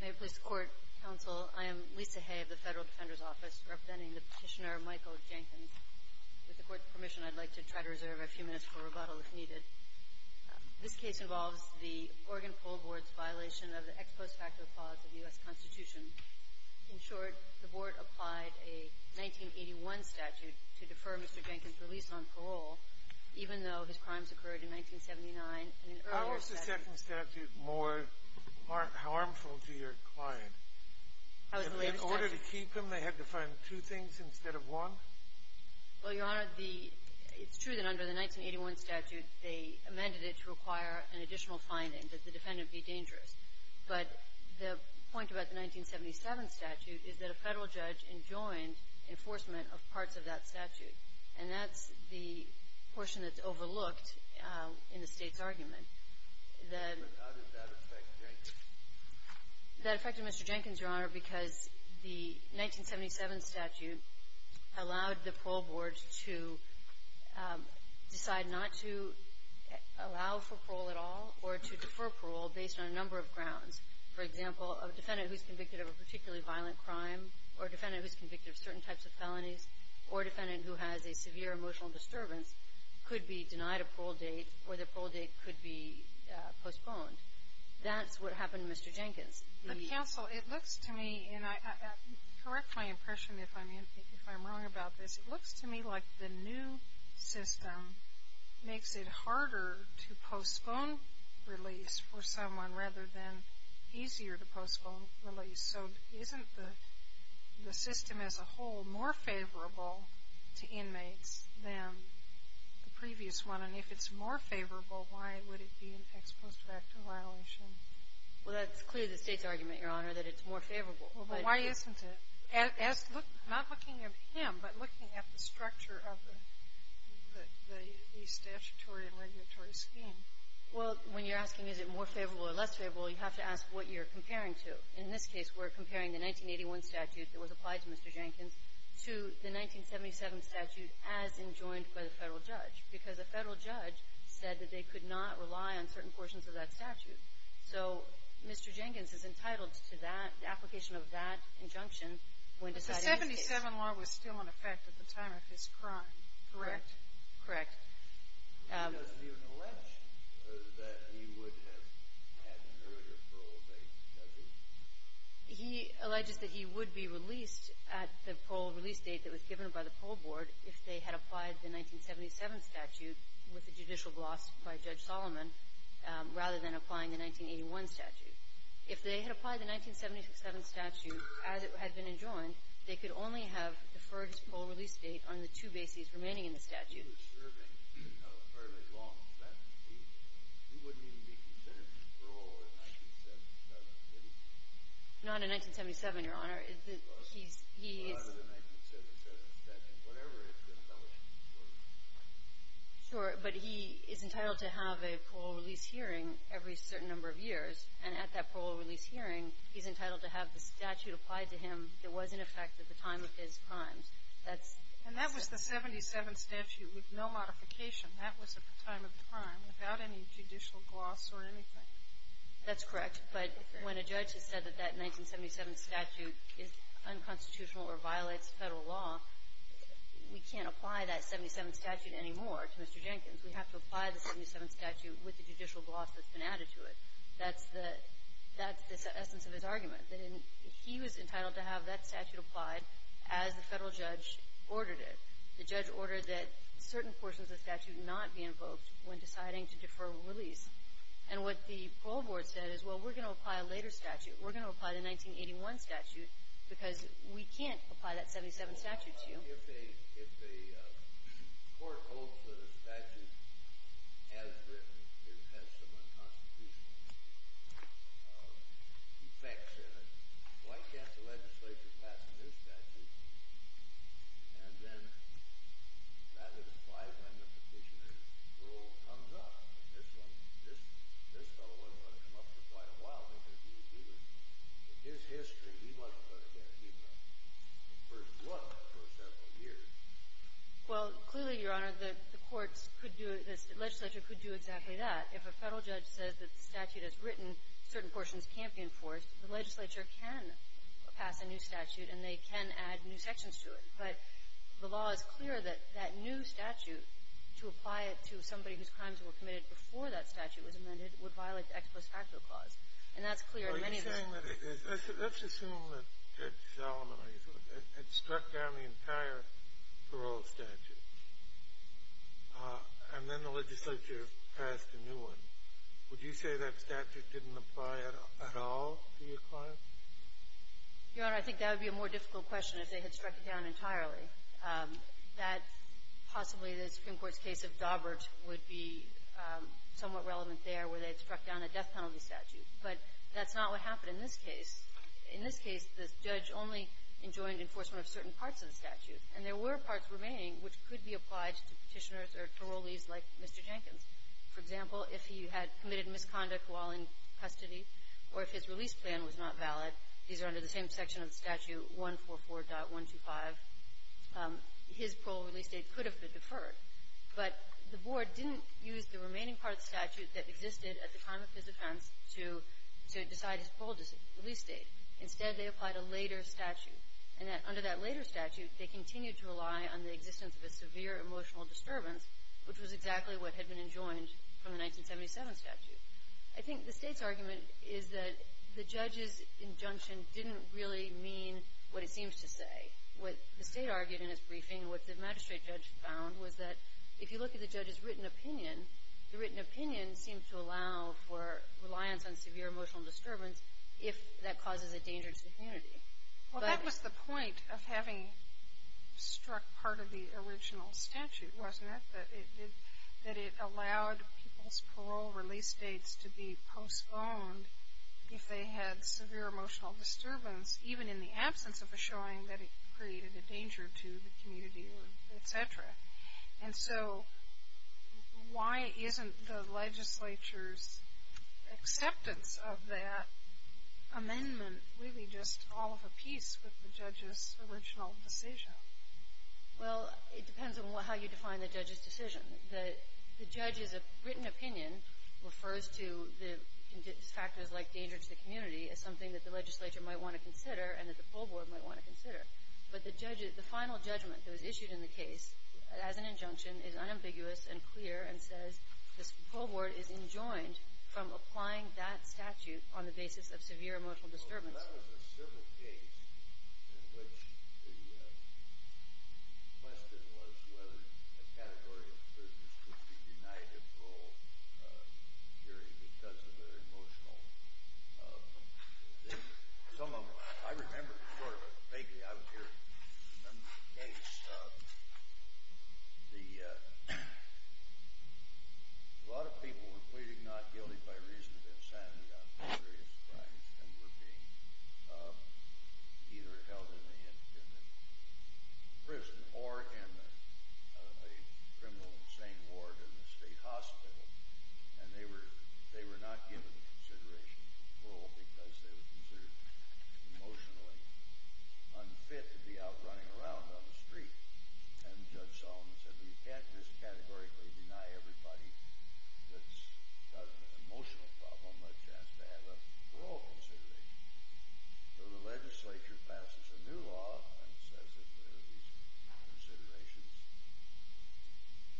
May it please the Court, Counsel, I am Lisa Hay of the Federal Defender's Office, representing the Petitioner Michael Jenkins. With the Court's permission, I'd like to try to reserve a few minutes for rebuttal, if needed. This case involves the Oregon Poll Board's violation of the ex post facto clause of the U.S. Constitution. In short, the Board applied a 1981 statute to defer Mr. Jenkins' release on parole, even though his crimes occurred in 1979. In an earlier statute How is the second statute more harmful to your client? In order to keep him, they had to find two things instead of one? Well, Your Honor, it's true that under the 1981 statute, they amended it to require an additional finding, that the defendant be dangerous. But the point about the 1977 statute is that a Federal judge enjoined enforcement of parts of that statute. And that's the portion that's overlooked in the State's argument. But how did that affect Jenkins? That affected Mr. Jenkins, Your Honor, because the 1977 statute allowed the poll board to decide not to allow for parole at all or to defer parole based on a number of grounds. For example, a defendant who's convicted of a particularly violent crime or a defendant who's convicted of certain types of felonies or a defendant who has a severe emotional disturbance could be denied a parole date or the parole date could be postponed. That's what happened to Mr. Jenkins. Counsel, it looks to me, and correct my impression if I'm wrong about this, it looks to me like the new system makes it harder to postpone release for someone rather than easier to postpone release. So isn't the system as a whole more favorable to inmates than the previous one? And if it's more favorable, why would it be an ex post facto violation? Well, that's clearly the State's argument, Your Honor, that it's more favorable. Well, but why isn't it? Not looking at him, but looking at the structure of the statutory and regulatory scheme. Well, when you're asking is it more favorable or less favorable, you have to ask what you're comparing to. In this case, we're comparing the 1981 statute that was applied to Mr. Jenkins to the 1977 statute as enjoined by the Federal judge because the Federal judge said that they could not rely on certain portions of that statute. So Mr. Jenkins is entitled to that application of that injunction when decided in case. But the 77 law was still in effect at the time of his crime, correct? Correct. He doesn't even allege that he would have had an earlier parole date, does he? He alleges that he would be released at the parole release date that was given by the parole board if they had applied the 1977 statute with a judicial gloss by Judge Solomon rather than applying the 1981 statute. If they had applied the 1977 statute as it had been enjoined, they could only have deferred his parole release date on the two bases remaining in the statute. He was serving a fairly long sentence. He wouldn't even be considered to parole in 1977, would he? Not in 1977, Your Honor. He's entitled to have a parole release hearing every certain number of years. And at that parole release hearing, he's entitled to have the statute applied to him that was in effect at the time of his crimes. And that was the 77 statute with no modification. That was at the time of the crime without any judicial gloss or anything. That's correct. But when a judge has said that that 1977 statute is unconstitutional or violates Federal law, we can't apply that 77 statute anymore to Mr. Jenkins. We have to apply the 77 statute with the judicial gloss that's been added to it. That's the essence of his argument, that he was entitled to have that statute applied as the Federal judge ordered it. The judge ordered that certain portions of the statute not be invoked when deciding to defer release. And what the parole board said is, well, we're going to apply a later statute. We're going to apply the 1981 statute because we can't apply that 77 statute to you. Well, if the court holds that a statute has some unconstitutional effects in it, why can't the legislature pass a new statute? And then that would apply when the petitioner's parole comes up. This fellow wasn't going to come up for quite a while. In his history, he wasn't going to get a new statute for what, for several years? Well, clearly, Your Honor, the courts could do this. The legislature could do exactly that. If a Federal judge says that the statute is written, certain portions can't be enforced, the legislature can pass a new statute, and they can add new sections to it. But the law is clear that that new statute, to apply it to somebody whose crimes were committed before that statute was amended, would violate the ex post facto clause. And that's clear in many of the living liberties. Let's assume that Judge Salamone had struck down the entire parole statute, and then the legislature passed a new one. Would you say that statute didn't apply at all to your client? Your Honor, I think that would be a more difficult question if they had struck it down entirely. That possibly the Supreme Court's case of Dawbert would be somewhat relevant there where they had struck down a death penalty statute. But that's not what happened in this case. In this case, the judge only enjoined enforcement of certain parts of the statute. And there were parts remaining which could be applied to Petitioners or Parolees like Mr. Jenkins. For example, if he had committed misconduct while in custody or if his release plan was not valid, these are under the same section of the statute, 144.125. His parole release date could have been deferred. But the Board didn't use the remaining part of the statute that existed at the time of his offense to decide his parole release date. Instead, they applied a later statute. And under that later statute, they continued to rely on the existence of a severe emotional disturbance, which was exactly what had been enjoined from the 1977 statute. I think the State's argument is that the judge's injunction didn't really mean what it seems to say. What the State argued in its briefing and what the magistrate judge found was that if you look at the judge's written opinion, the written opinion seemed to allow for reliance on severe emotional disturbance if that causes a danger to the community. But that was the point of having struck part of the original statute, wasn't it, that it allowed people's parole release dates to be postponed if they had severe emotional disturbance, even in the absence of a showing that it created a danger to the community, et cetera. And so why isn't the legislature's acceptance of that amendment really just all of a piece with the judge's original decision? Well, it depends on how you define the judge's decision. The judge's written opinion refers to factors like danger to the community as something that the legislature might want to consider and that the parole board might want to consider. But the final judgment that was issued in the case as an injunction is unambiguous and clear and says the parole board is enjoined from applying that statute on the basis of severe emotional disturbance. Well, that was a civil case in which the question was whether a category of prisoners could be denied a parole period because of their emotional. Some of them, I remember sort of vaguely, I remember the case. A lot of people were pleading not guilty by reason of insanity on various crimes and were being either held in a prison or in a criminal insane ward in a state hospital. And they were not given the consideration of parole because they were considered emotionally unfit to be out running around on the street. And Judge Solomon said, well, you can't just categorically deny everybody that's got an emotional problem a chance to have a parole consideration. So the legislature passes a new law and says if there are these considerations,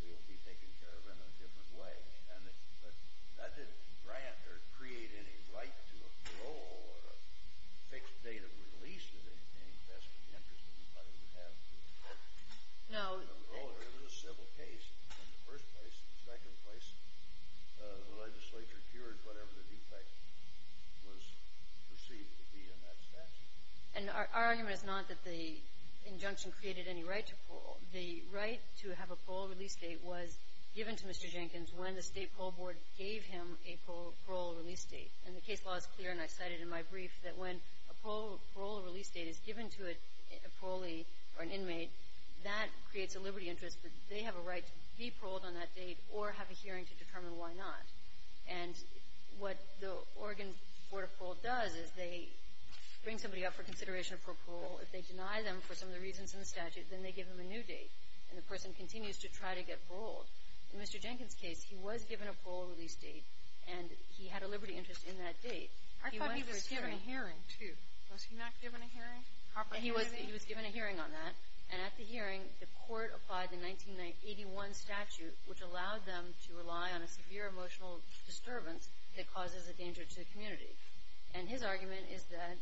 they will be taken care of in a different way. But that didn't grant or create any right to a parole or a fixed date of release or anything in the best of the interest of anybody who would have to have a parole. It was a civil case. In the first place, in the second place, the legislature cured whatever the defect was perceived to be in that statute. And our argument is not that the injunction created any right to parole. The right to have a parole release date was given to Mr. Jenkins when the State Parole Board gave him a parole release date. And the case law is clear, and I cited it in my brief, that when a parole release date is given to a parolee or an inmate, that creates a liberty interest that they have a right to be paroled on that date or have a hearing to determine why not. And what the Oregon Board of Parole does is they bring somebody up for consideration for parole. If they deny them for some of the reasons in the statute, then they give them a new date, and the person continues to try to get paroled. In Mr. Jenkins' case, he was given a parole release date, and he had a liberty interest in that date. He went for a hearing. Sotomayor, I thought he was given a hearing, too. Was he not given a hearing? A proper hearing? He was given a hearing on that. And at the hearing, the court applied the 1981 statute, which allowed them to rely on a severe emotional disturbance that causes a danger to the community. And his argument is that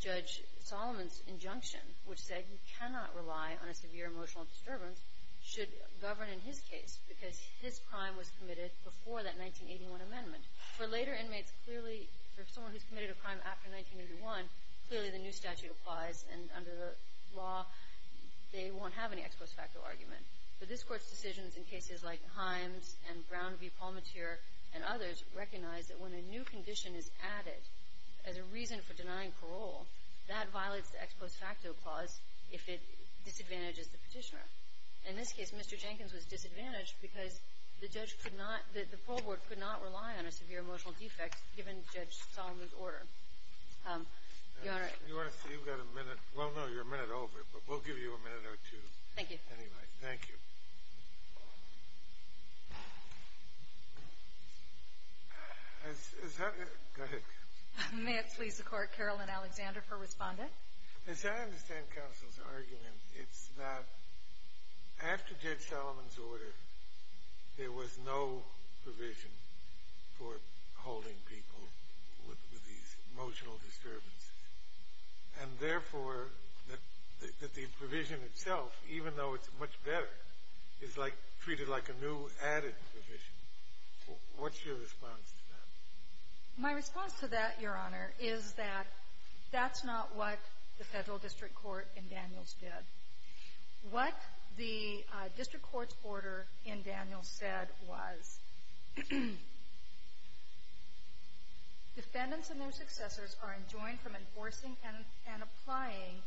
Judge Solomon's injunction, which said he cannot rely on a severe emotional disturbance, should govern in his case because his crime was committed before that 1981 amendment. For later inmates, clearly, for someone who's committed a crime after 1981, clearly the new statute applies, and under the law, they won't have any ex post facto argument. But this Court's decisions in cases like Himes and Brown v. Palmatier and others recognize that when a new condition is added as a reason for denying parole, that violates the ex post facto clause if it disadvantages the Petitioner. In this case, Mr. Jenkins was disadvantaged because the judge could not – the parole board could not rely on a severe emotional defect given Judge Solomon's order. Your Honor. You want to see? You've got a minute. Well, no, you're a minute over, but we'll give you a minute or two. Thank you. Anyway, thank you. Is that – go ahead. May it please the Court, Caroline Alexander for respondent. There was no provision for holding people with these emotional disturbances. And therefore, that the provision itself, even though it's much better, is like treated like a new added provision. What's your response to that? My response to that, Your Honor, is that that's not what the Federal District Court in Daniels did. What the District Court's order in Daniels said was defendants and their successors are enjoined from enforcing and applying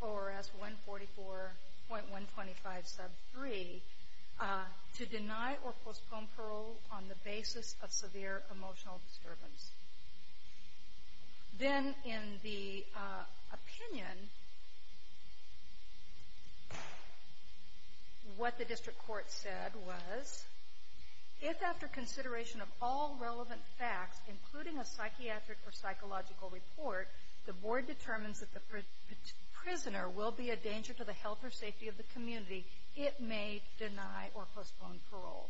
ORS 144.125 sub 3 to deny or postpone parole on the basis of severe emotional disturbance. Then in the opinion, what the District Court said was if after consideration of all relevant facts, including a psychiatric or psychological report, the board determines that the prisoner will be a danger to the health or safety of the community, it may deny or postpone parole.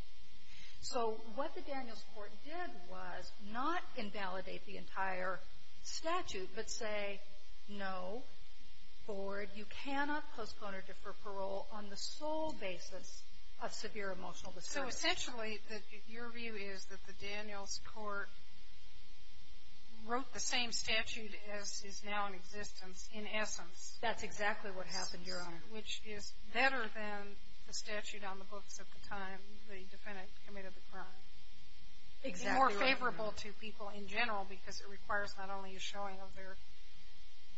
So what the Daniels Court did was not invalidate the entire statute, but say, no, board, you cannot postpone or defer parole on the sole basis of severe emotional disturbance. So essentially, your view is that the Daniels Court wrote the same statute as is now in existence, in essence. That's exactly what happened, Your Honor. Which is better than the statute on the books at the time the defendant committed the crime. Exactly, Your Honor. It's more favorable to people in general because it requires not only a showing of their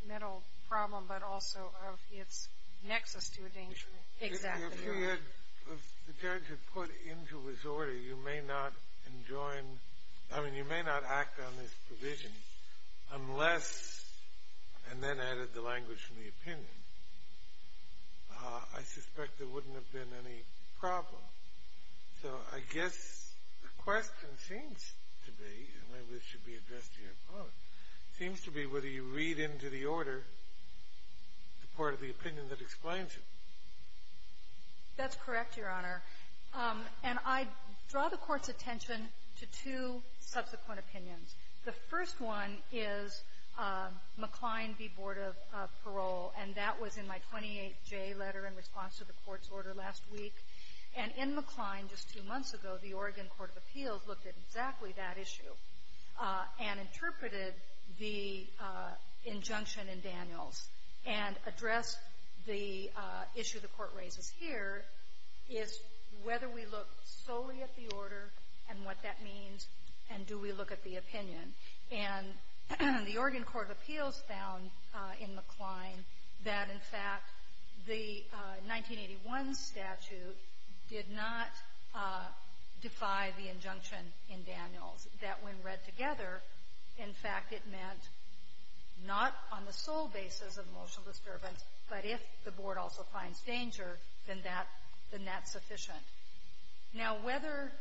mental problem, but also of its nexus to a danger. Exactly, Your Honor. If the judge had put into his order, you may not enjoin, I mean, you may not act on this provision unless, and then added the language from the opinion, I suspect there wouldn't have been any problem. So I guess the question seems to be, and maybe this should be addressed to your opponent, seems to be whether you read into the order the part of the opinion that explains it. That's correct, Your Honor. And I draw the Court's attention to two subsequent opinions. The first one is McLean v. Board of Parole, and that was in my 28J letter in response to the Court's order last week. And in McLean, just two months ago, the Oregon Court of Appeals looked at exactly that issue and interpreted the injunction in Daniels and addressed the issue the Court raises here, is whether we look solely at the order and what that means, and do we look at the opinion. And the Oregon Court of Appeals found in McLean that, in fact, the 1981 statute did not defy the injunction in Daniels, that when read together, in fact, it meant not on the sole basis of emotional disturbance, but if the board also finds danger, then that's sufficient. Now, whether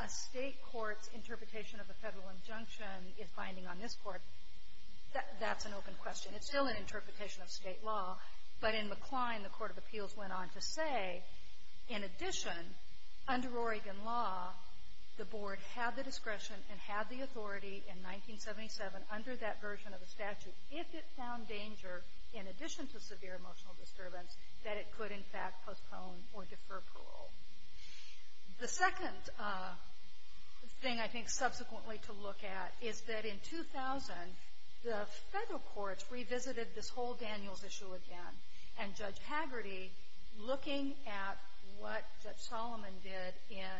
a State court's interpretation of the Federal injunction is binding on this Court, that's an open question. It's still an interpretation of State law. But in McLean, the Court of Appeals went on to say, in addition, under Oregon law, the board had the discretion and had the authority in 1977, under that version of the statute, if it found danger in addition to severe emotional disturbance, that it could, in fact, postpone or defer parole. The second thing, I think, subsequently to look at is that in 2000, the Federal courts revisited this whole Daniels issue again. And Judge Hagerty, looking at what Judge Solomon did in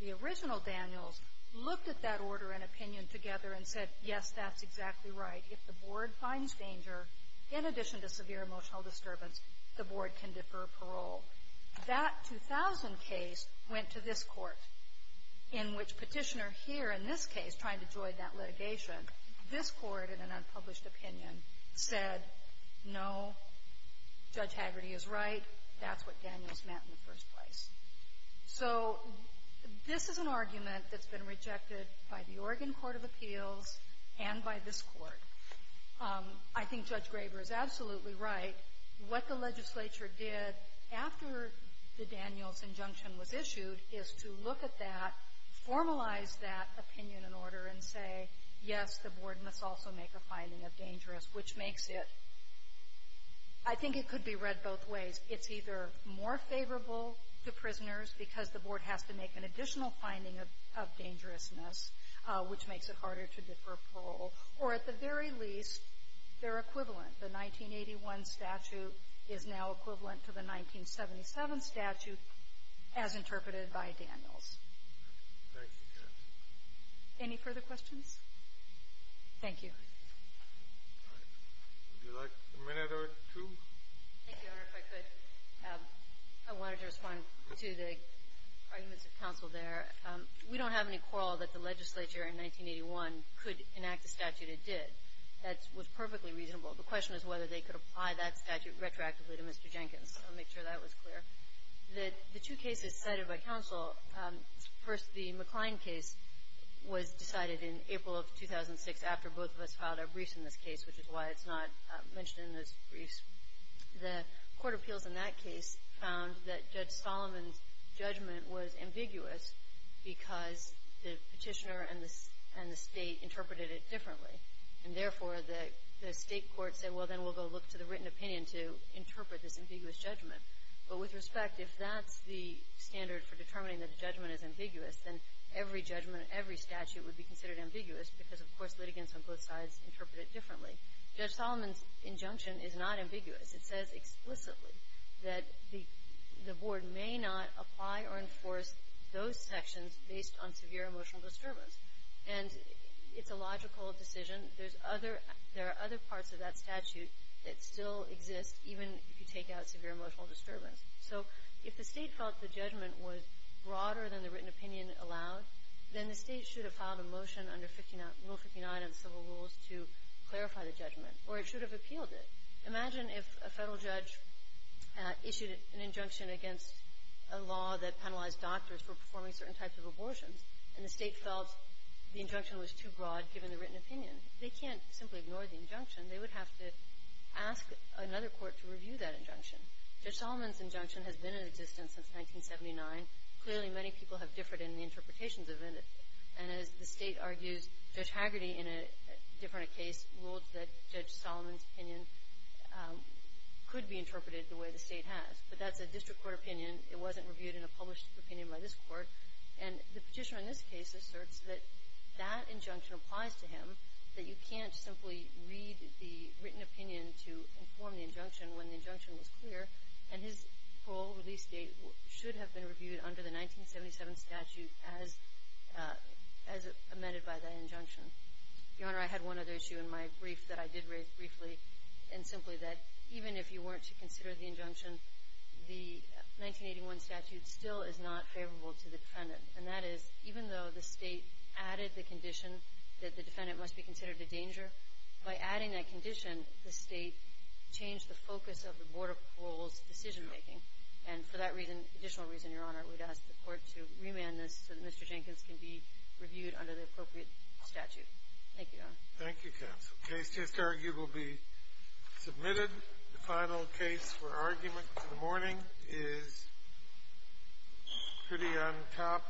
the original Daniels, looked at that order and opinion together and said, yes, that's exactly right. If the board finds danger in addition to severe emotional disturbance, the board can defer parole. That 2000 case went to this Court, in which Petitioner here in this case, trying to join that litigation, this Court, in an unpublished opinion, said, no, Judge Hagerty is right, that's what Daniels meant in the first place. So this is an argument that's been rejected by the Oregon Court of Appeals and by this Court. I think Judge Graber is absolutely right. What the legislature did after the Daniels injunction was issued is to look at that, formalize that opinion and order, and say, yes, the board must also make a finding of dangerous, which makes it, I think it could be read both ways. It's either more favorable to prisoners because the board has to make an additional finding of dangerousness, which makes it harder to defer parole, or at the very least, they're equivalent. The 1981 statute is now equivalent to the 1977 statute as interpreted by Daniels. Any further questions? Thank you. All right. Would you like a minute or two? Thank you, Your Honor, if I could. I wanted to respond to the arguments of counsel there. We don't have any quarrel that the legislature in 1981 could enact a statute it did. That was perfectly reasonable. The question is whether they could apply that statute retroactively to Mr. Jenkins. I'll make sure that was clear. The two cases cited by counsel, first the McCline case was decided in April of 2006 after both of us filed our briefs in this case, which is why it's not mentioned in those briefs. The Court of Appeals in that case found that Judge Solomon's judgment was ambiguous because the Petitioner and the State interpreted it differently. And therefore, the State court said, well, then we'll go look to the written opinion to interpret this ambiguous judgment. But with respect, if that's the standard for determining that a judgment is ambiguous, then every judgment, every statute would be considered ambiguous because, of course, litigants on both sides interpret it differently. Judge Solomon's injunction is not ambiguous. It says explicitly that the Board may not apply or enforce those sections based on severe emotional disturbance. And it's a logical decision. There's other – there are other parts of that statute that still exist even if you take out severe emotional disturbance. So if the State felt the judgment was broader than the written opinion allowed, then the State should have filed a motion under Rule 59 of the Civil Rules to clarify the judgment, or it should have appealed it. Imagine if a Federal judge issued an injunction against a law that penalized doctors for performing certain types of abortions, and the State felt the injunction was too broad given the written opinion. They can't simply ignore the injunction. They would have to ask another court to review that injunction. Judge Solomon's injunction has been in existence since 1979. Clearly, many people have differed in the interpretations of it. And as the State argues, Judge Hagerty, in a different case, ruled that Judge Solomon's opinion could be interpreted the way the State has. But that's a district court opinion. It wasn't reviewed in a published opinion by this Court. And the Petitioner in this case asserts that that injunction applies to him, that you can't simply read the written opinion to inform the injunction when the injunction was clear. And his parole release date should have been reviewed under the 1977 statute as – as amended by that injunction. Your Honor, I had one other issue in my brief that I did raise briefly, and simply that even if you weren't to consider the injunction, the 1981 statute still is not favorable to the defendant. And that is, even though the State added the condition that the defendant must be considered a danger, by adding that condition, the State changed the focus of the Board of Parole's decision-making. And for that reason, additional reason, Your Honor, I would ask the Court to remand this so that Mr. Jenkins can be reviewed under the appropriate statute. Thank you, Your Honor. Thank you, counsel. The case just argued will be submitted. The final case for argument in the morning is pretty on top.